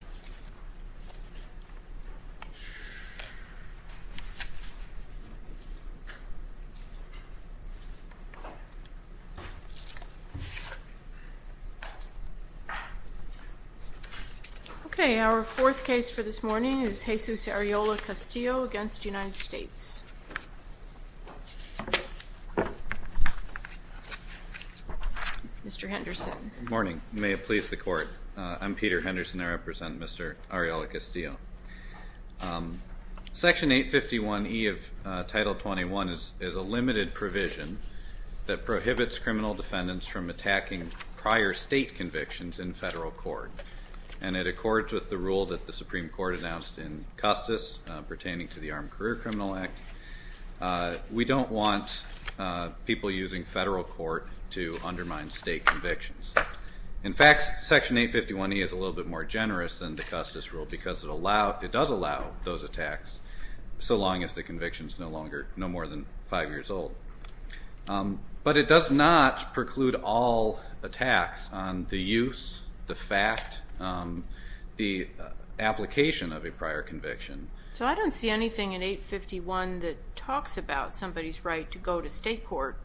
4. Jesus Arreola-Castillo v. United States Section 851E of Title 21 is a limited provision that prohibits criminal defendants from attacking prior state convictions in federal court. And it accords with the rule that the Supreme Court announced in Custis pertaining to the We don't want people using federal court to undermine state convictions. In fact, Section 851E is a little bit more generous than the Custis rule because it does allow those attacks so long as the conviction is no more than five years old. But it does not preclude all attacks on the use, the fact, the application of a prior conviction. So I don't see anything in 851 that talks about somebody's right to go to state court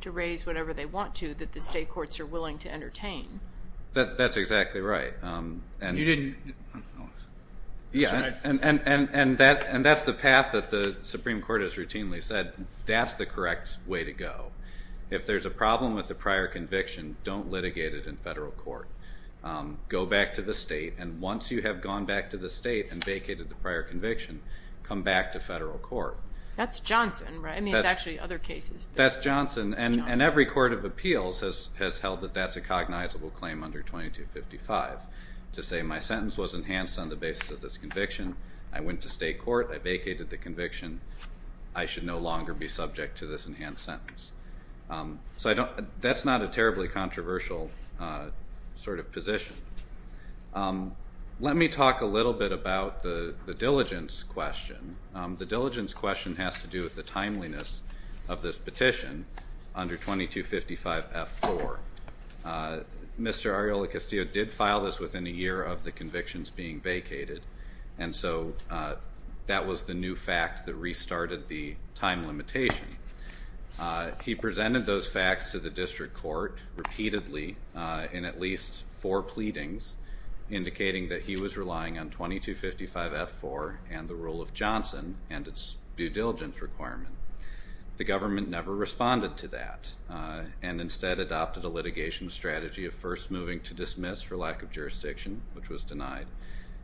to raise whatever they want to that the state courts are willing to entertain. That's exactly right. And that's the path that the Supreme Court has routinely said that's the correct way to go. If there's a problem with a prior conviction, don't litigate it in federal court. Go back to the state, and once you have gone back to the state and vacated the prior conviction, come back to federal court. That's Johnson, right? I mean, it's actually other cases. That's Johnson. And every court of appeals has held that that's a cognizable claim under 2255 to say my sentence was enhanced on the basis of this conviction, I went to state court, I vacated the conviction, I should no longer be subject to this enhanced sentence. So that's not a terribly controversial sort of position. Let me talk a little bit about the diligence question. The diligence question has to do with the timeliness of this petition under 2255F4. Mr. Arreola-Castillo did file this within a year of the convictions being vacated. And so that was the new fact that restarted the time limitation. He presented those facts to the district court repeatedly in at least four pleadings indicating that he was relying on 2255F4 and the rule of Johnson and its due diligence requirement. The government never responded to that and instead adopted a litigation strategy of first moving to dismiss for lack of jurisdiction, which was denied,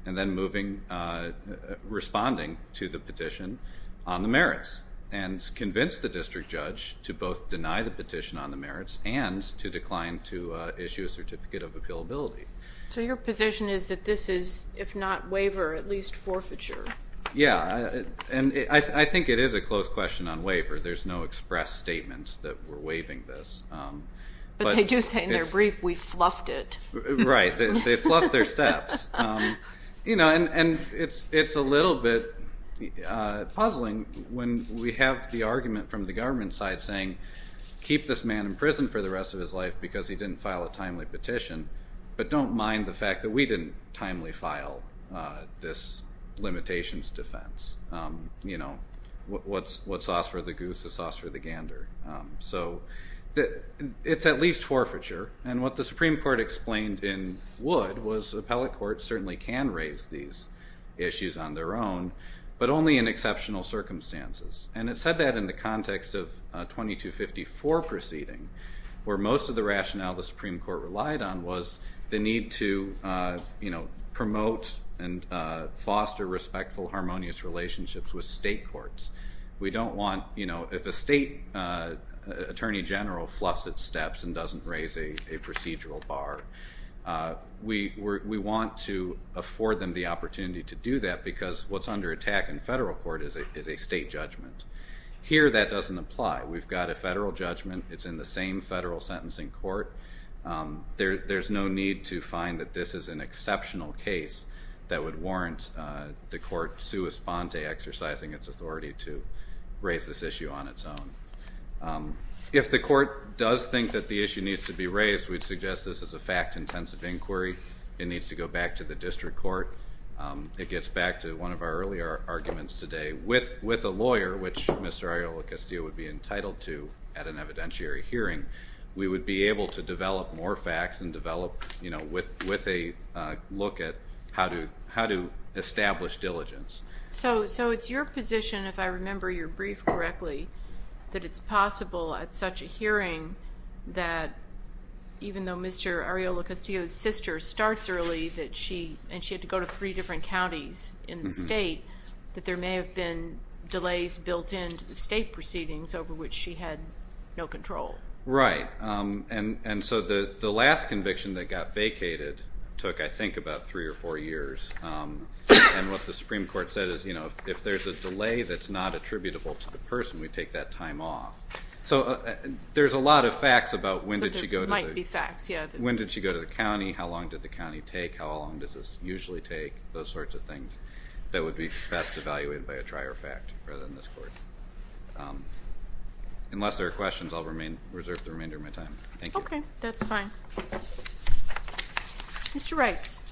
and then responding to the petition on the merits and convinced the district judge to both deny the petition on the merits and to decline to issue a certificate of appealability. So your position is that this is, if not waiver, at least forfeiture? Yeah. And I think it is a close question on waiver. There's no express statement that we're waiving this. But they do say in their brief, we fluffed it. Right. They fluffed their steps. And it's a little bit puzzling when we have the argument from the government side saying, keep this man in prison for the rest of his life because he didn't file a timely petition, but don't mind the fact that we didn't timely file this limitations defense. What's sauce for the goose is sauce for the gander. So it's at least forfeiture. And what the Supreme Court explained in Wood was the appellate court certainly can raise these issues on their own, but only in exceptional circumstances. And it said that in the context of 2254 proceeding, where most of the rationale the Supreme Court relied on was the need to promote and foster respectful, harmonious relationships with state courts. We don't want, you know, if a state attorney general fluffs its steps and doesn't raise a procedural bar, we want to afford them the opportunity to do that because what's under attack in federal court is a state judgment. Here that doesn't apply. We've got a federal judgment. It's in the same federal sentencing court. There's no need to find that this is an exceptional case that would warrant the court sua sponte exercising its authority to raise this issue on its own. If the court does think that the issue needs to be raised, we'd suggest this is a fact intensive inquiry. It needs to go back to the district court. It gets back to one of our earlier arguments today. With a lawyer, which Mr. Arreola-Castillo would be entitled to at an evidentiary hearing, we would be able to develop more facts and develop, you know, with a look at how to establish diligence. So it's your position, if I remember your brief correctly, that it's possible at such a hearing that even though Mr. Arreola-Castillo's sister starts early and she had to go to three different counties in the state, that there may have been delays built in to the state proceedings over which she had no control. Right. And so the last conviction that got vacated took, I think, about three or four years. And what the Supreme Court said is, you know, if there's a delay that's not attributable to the person, we take that time off. So there's a lot of facts about when did she go to the county, how long did the county take, how long does this usually take, those sorts of things that would be best evaluated by a trier fact rather than this court. Unless there are questions, I'll reserve the remainder of my time. Thank you. Okay. That's fine. Mr. Wrights.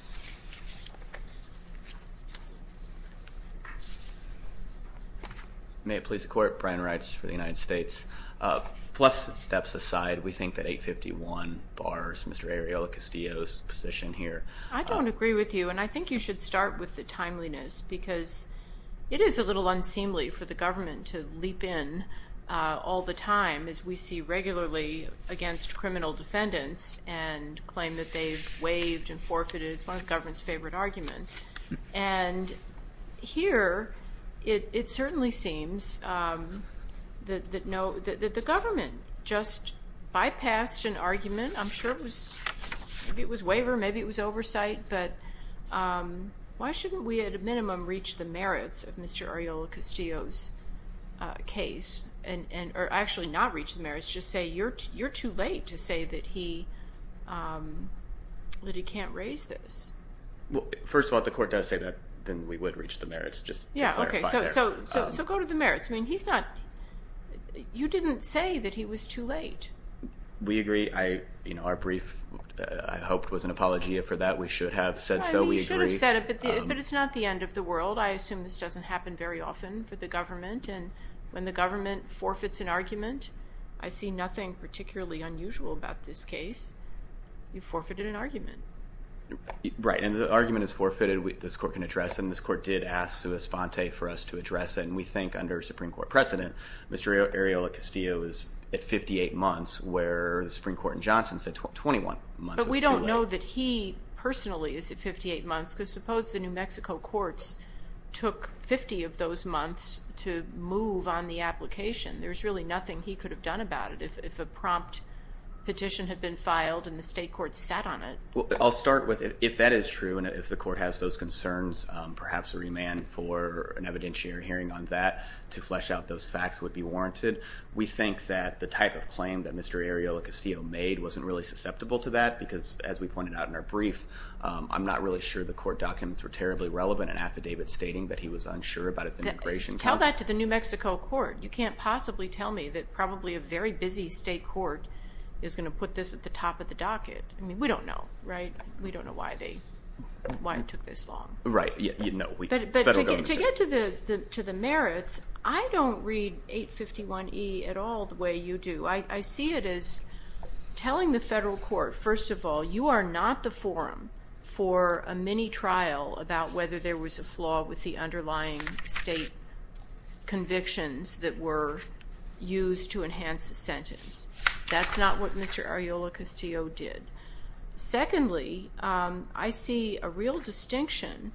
May it please the Court, Brian Wrights for the United States. Fluff steps aside, we think that 851 bars Mr. Arreola-Castillo's position here. I don't agree with you, and I think you should start with the timeliness, because it is a little unseemly for the government to leap in all the time, as we see regularly against criminal defendants and claim that they've waived and forfeited. It's one of the government's favorite arguments. And here, it certainly seems that the government just bypassed an argument. I'm sure it was waiver, maybe it was oversight, but why shouldn't we at a minimum reach the merits of Mr. Arreola-Castillo's case, or actually not reach the merits, just say you're too late to say that he can't raise this? Well, first of all, if the Court does say that, then we would reach the merits, just to clarify there. Yeah, okay. So go to the merits. I mean, he's not, you didn't say that he was too late. We agree. I, you know, our brief, I hope, was an apology for that. We should have said so. We agree. I mean, you should have said it, but it's not the end of the world. I assume this doesn't happen very often for the government, and when the government forfeits an argument, I see nothing particularly unusual about this case. You forfeited an argument. Right, and if the argument is forfeited, this Court can address it, and this Court did ask Suess-Fonte for us to address it, and we think under Supreme Court precedent, Mr. Arreola-Castillo is at 58 months, where the Supreme Court in Johnson said 21 months was too late. But we don't know that he personally is at 58 months, because suppose the New Mexico courts took 50 of those months to move on the application. There's really nothing he could have done about it if a prompt petition had been filed and the state court sat on it. Well, I'll start with if that is true, and if the Court has those concerns, perhaps a remand for an evidentiary hearing on that to flesh out those facts would be warranted. We think that the type of claim that Mr. Arreola-Castillo made wasn't really susceptible to that, because as we pointed out in our brief, I'm not really sure the court documents were terribly relevant in affidavit stating that he was unsure about his immigration counsel. Tell that to the New Mexico court. You can't possibly tell me that probably a very busy state court is going to put this at the top of the docket. I mean, we don't know, right? We don't know why it took this long. Right. But to get to the merits, I don't read 851E at all the way you do. I see it as telling the federal court, first of all, you are not the forum for a mini-trial about whether there was a flaw with the underlying state convictions that were used to enhance the sentence. That's not what Mr. Arreola-Castillo did. Secondly, I see a real distinction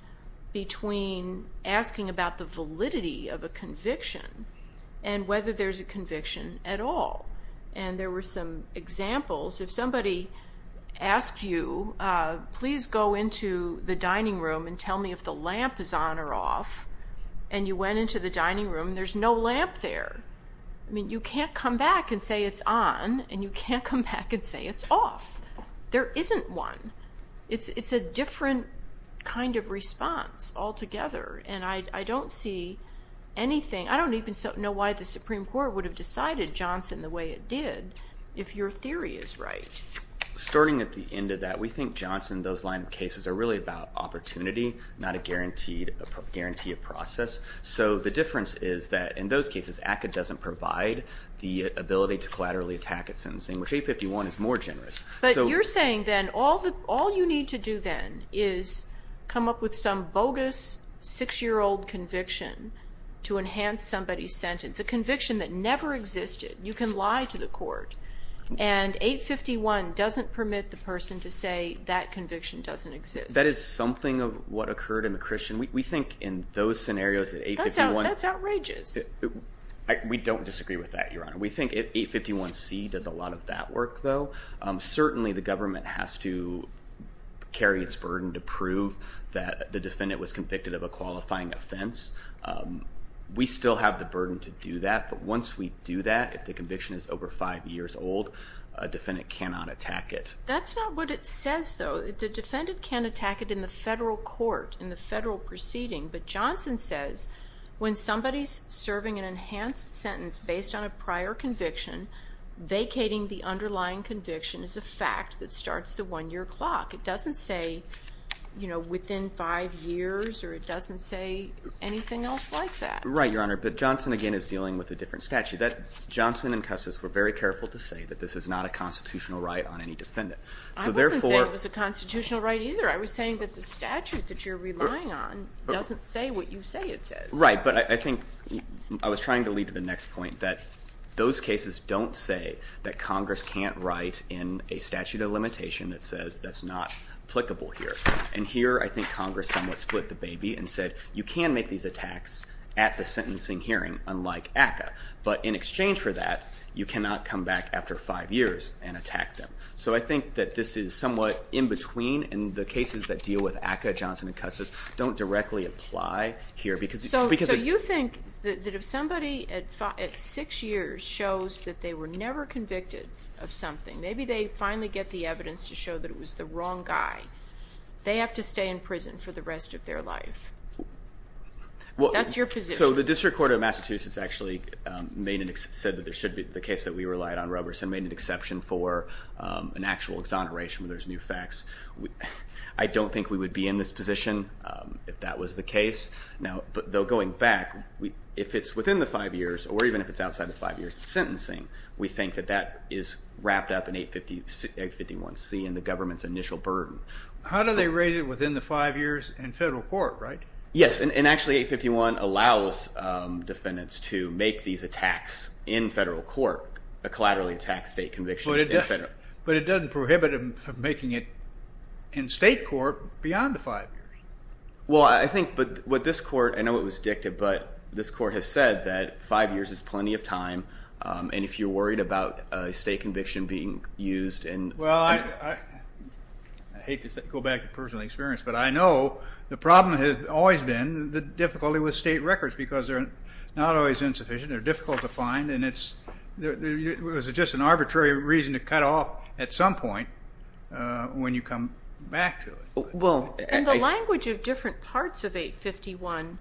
between asking about the validity of a conviction and whether there's a conviction at all. And there were some examples, if somebody asked you, please go into the dining room and tell me if the lamp is on or off, and you went into the dining room, there's no lamp there. I mean, you can't come back and say it's on, and you can't come back and say it's off. There isn't one. It's a different kind of response altogether. And I don't see anything, I don't even know why the Supreme Court would have decided Johnson the way it did if your theory is right. Starting at the end of that, we think Johnson, those line of cases, are really about opportunity, not a guaranteed process. So the difference is that in those cases, ACCA doesn't provide the ability to collaterally attack a sentencing, which 851 is more generous. But you're saying then, all you need to do then is come up with some bogus six-year-old conviction to enhance somebody's sentence, a conviction that never existed. You can lie to the court, and 851 doesn't permit the person to say, that conviction doesn't exist. That is something of what occurred in McChristian. We think in those scenarios that 851- That's outrageous. We don't disagree with that, Your Honor. We think 851C does a lot of that work, though. Certainly, the government has to carry its burden to prove that the defendant was convicted of a qualifying offense. We still have the burden to do that, but once we do that, if the conviction is over five years old, a defendant cannot attack it. That's not what it says, though. The defendant can't attack it in the federal court, in the federal proceeding, but Johnson says when somebody's serving an enhanced sentence based on a prior conviction, vacating the underlying conviction is a fact that starts the one-year clock. It doesn't say within five years, or it doesn't say anything else like that. Right, Your Honor, but Johnson, again, is dealing with a different statute. Johnson and Custis were very careful to say that this is not a constitutional right on any defendant. I wasn't saying it was a constitutional right, either. I was saying that the statute that you're relying on doesn't say what you say it says. Right, but I think I was trying to lead to the next point that those cases don't say that Congress can't write in a statute of limitation that says that's not applicable here. And here, I think Congress somewhat split the baby and said you can make these attacks at the sentencing hearing, unlike ACCA, but in exchange for that, you cannot come back after five years and attack them. So I think that this is somewhat in between, and the cases that deal with ACCA, Johnson and Custis, don't directly apply here because... Do you think that if somebody, at six years, shows that they were never convicted of something, maybe they finally get the evidence to show that it was the wrong guy, they have to stay in prison for the rest of their life? That's your position. So the District Court of Massachusetts actually said that there should be, the case that we relied on, Robertson, made an exception for an actual exoneration where there's new facts. I don't think we would be in this position if that was the case. Now, though, going back, if it's within the five years, or even if it's outside the five years of sentencing, we think that that is wrapped up in 851C in the government's initial burden. How do they raise it within the five years in federal court, right? Yes, and actually 851 allows defendants to make these attacks in federal court, a collaterally attacked state conviction. But it doesn't prohibit them from making it in state court beyond the five years. Well, I think what this court, I know it was dictated, but this court has said that five years is plenty of time, and if you're worried about a state conviction being used and... Well, I hate to go back to personal experience, but I know the problem has always been the difficulty with state records, because they're not always insufficient, they're difficult to find, and it's just an arbitrary reason to cut off at some point when you come back to it. Well, I... In the language of different parts of 851,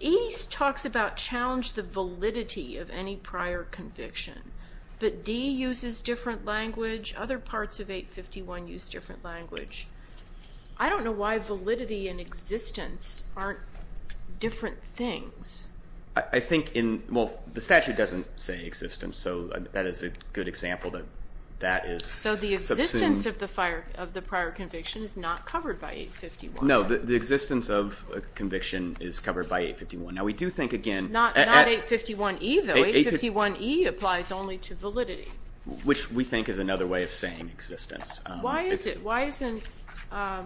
E talks about challenge the validity of any prior conviction, but D uses different language, other parts of 851 use different language. I don't know why validity and existence aren't different things. I think in, well, the statute doesn't say existence, so that is a good example that that is... So the existence of the prior conviction is not covered by 851. No, the existence of conviction is covered by 851. Now, we do think, again... Not 851E, though. 851E applies only to validity. Which we think is another way of saying existence. Why is it? Why isn't... I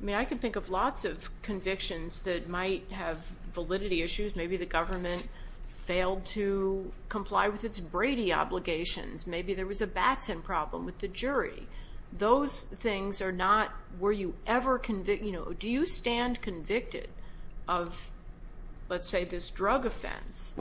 mean, I can think of lots of convictions that might have validity issues. Maybe the government failed to comply with its Brady obligations. Maybe there was a Batson problem with the jury. Those things are not... Were you ever convict... Do you stand convicted of, let's say, this drug offense?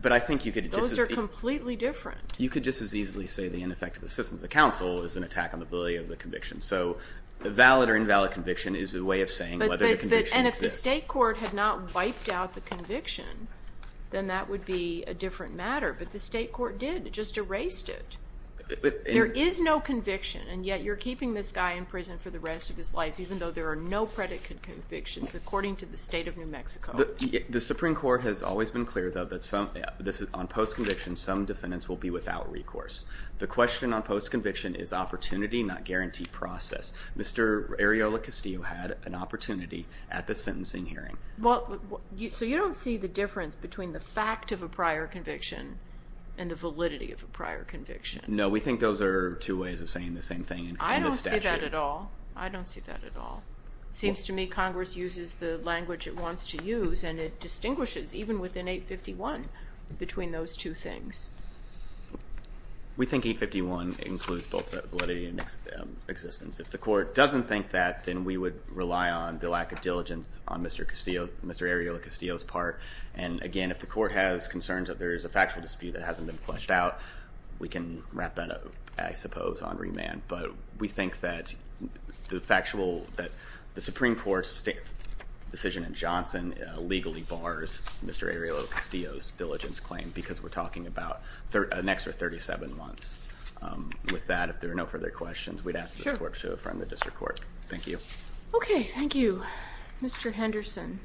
But I think you could... Those are completely different. You could just as easily say the ineffective assistance of the counsel is an attack on the validity of the conviction. So valid or invalid conviction is a way of saying whether the conviction exists. And if the state court had not wiped out the conviction, then that would be a different matter. But the state court did. It just erased it. There is no conviction, and yet you're keeping this guy in prison for the rest of his life, even though there are no predicate convictions, according to the state of New Mexico. The Supreme Court has always been clear, though, that on post-conviction, some defendants will be without recourse. The question on post-conviction is opportunity, not guaranteed process. Mr. Areola Castillo had an opportunity at the sentencing hearing. So you don't see the difference between the fact of a prior conviction and the validity of a prior conviction? No. We think those are two ways of saying the same thing in the statute. I don't see that at all. I don't see that at all. Seems to me Congress uses the language it wants to use, and it distinguishes, even within 851, between those two things. We think 851 includes both validity and existence. If the court doesn't think that, then we would rely on the lack of diligence on Mr. Areola Castillo's part. And, again, if the court has concerns that there is a factual dispute that hasn't been fleshed out, we can wrap that up, I suppose, on remand. But we think that the Supreme Court's decision in Johnson legally bars Mr. Areola Castillo's diligence claim, because we're talking about an extra 37 months. With that, if there are no further questions, we'd ask this court to affirm the district court. Thank you. Okay. Thank you. Mr. Henderson.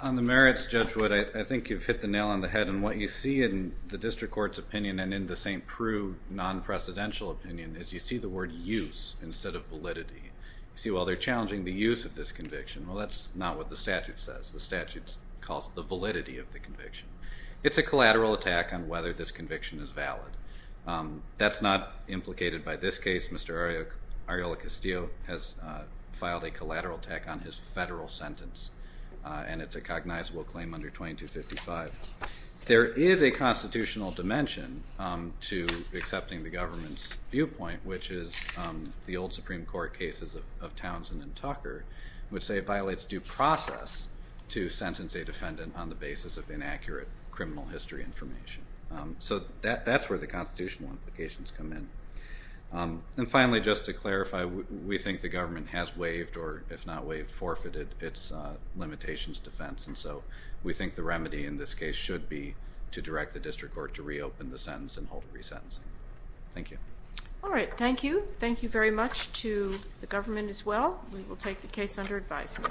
On the merits, Judge Wood, I think you've hit the nail on the head. And what you see in the district court's opinion and in the St. Prue non-precedential opinion is you see the word use instead of validity. You see, well, they're challenging the use of this conviction. Well, that's not what the statute says. The statute calls it the validity of the conviction. It's a collateral attack on whether this conviction is valid. That's not implicated by this case. Mr. Areola Castillo has filed a collateral attack on his federal sentence. And it's a cognizable claim under 2255. There is a constitutional dimension to accepting the government's viewpoint, which is the old to sentence a defendant on the basis of inaccurate criminal history information. So that's where the constitutional implications come in. And finally, just to clarify, we think the government has waived or, if not waived, forfeited its limitations defense. And so we think the remedy in this case should be to direct the district court to reopen the sentence and hold re-sentencing. Thank you. All right. Thank you. Thank you very much to the government as well. We will take the case under advisement.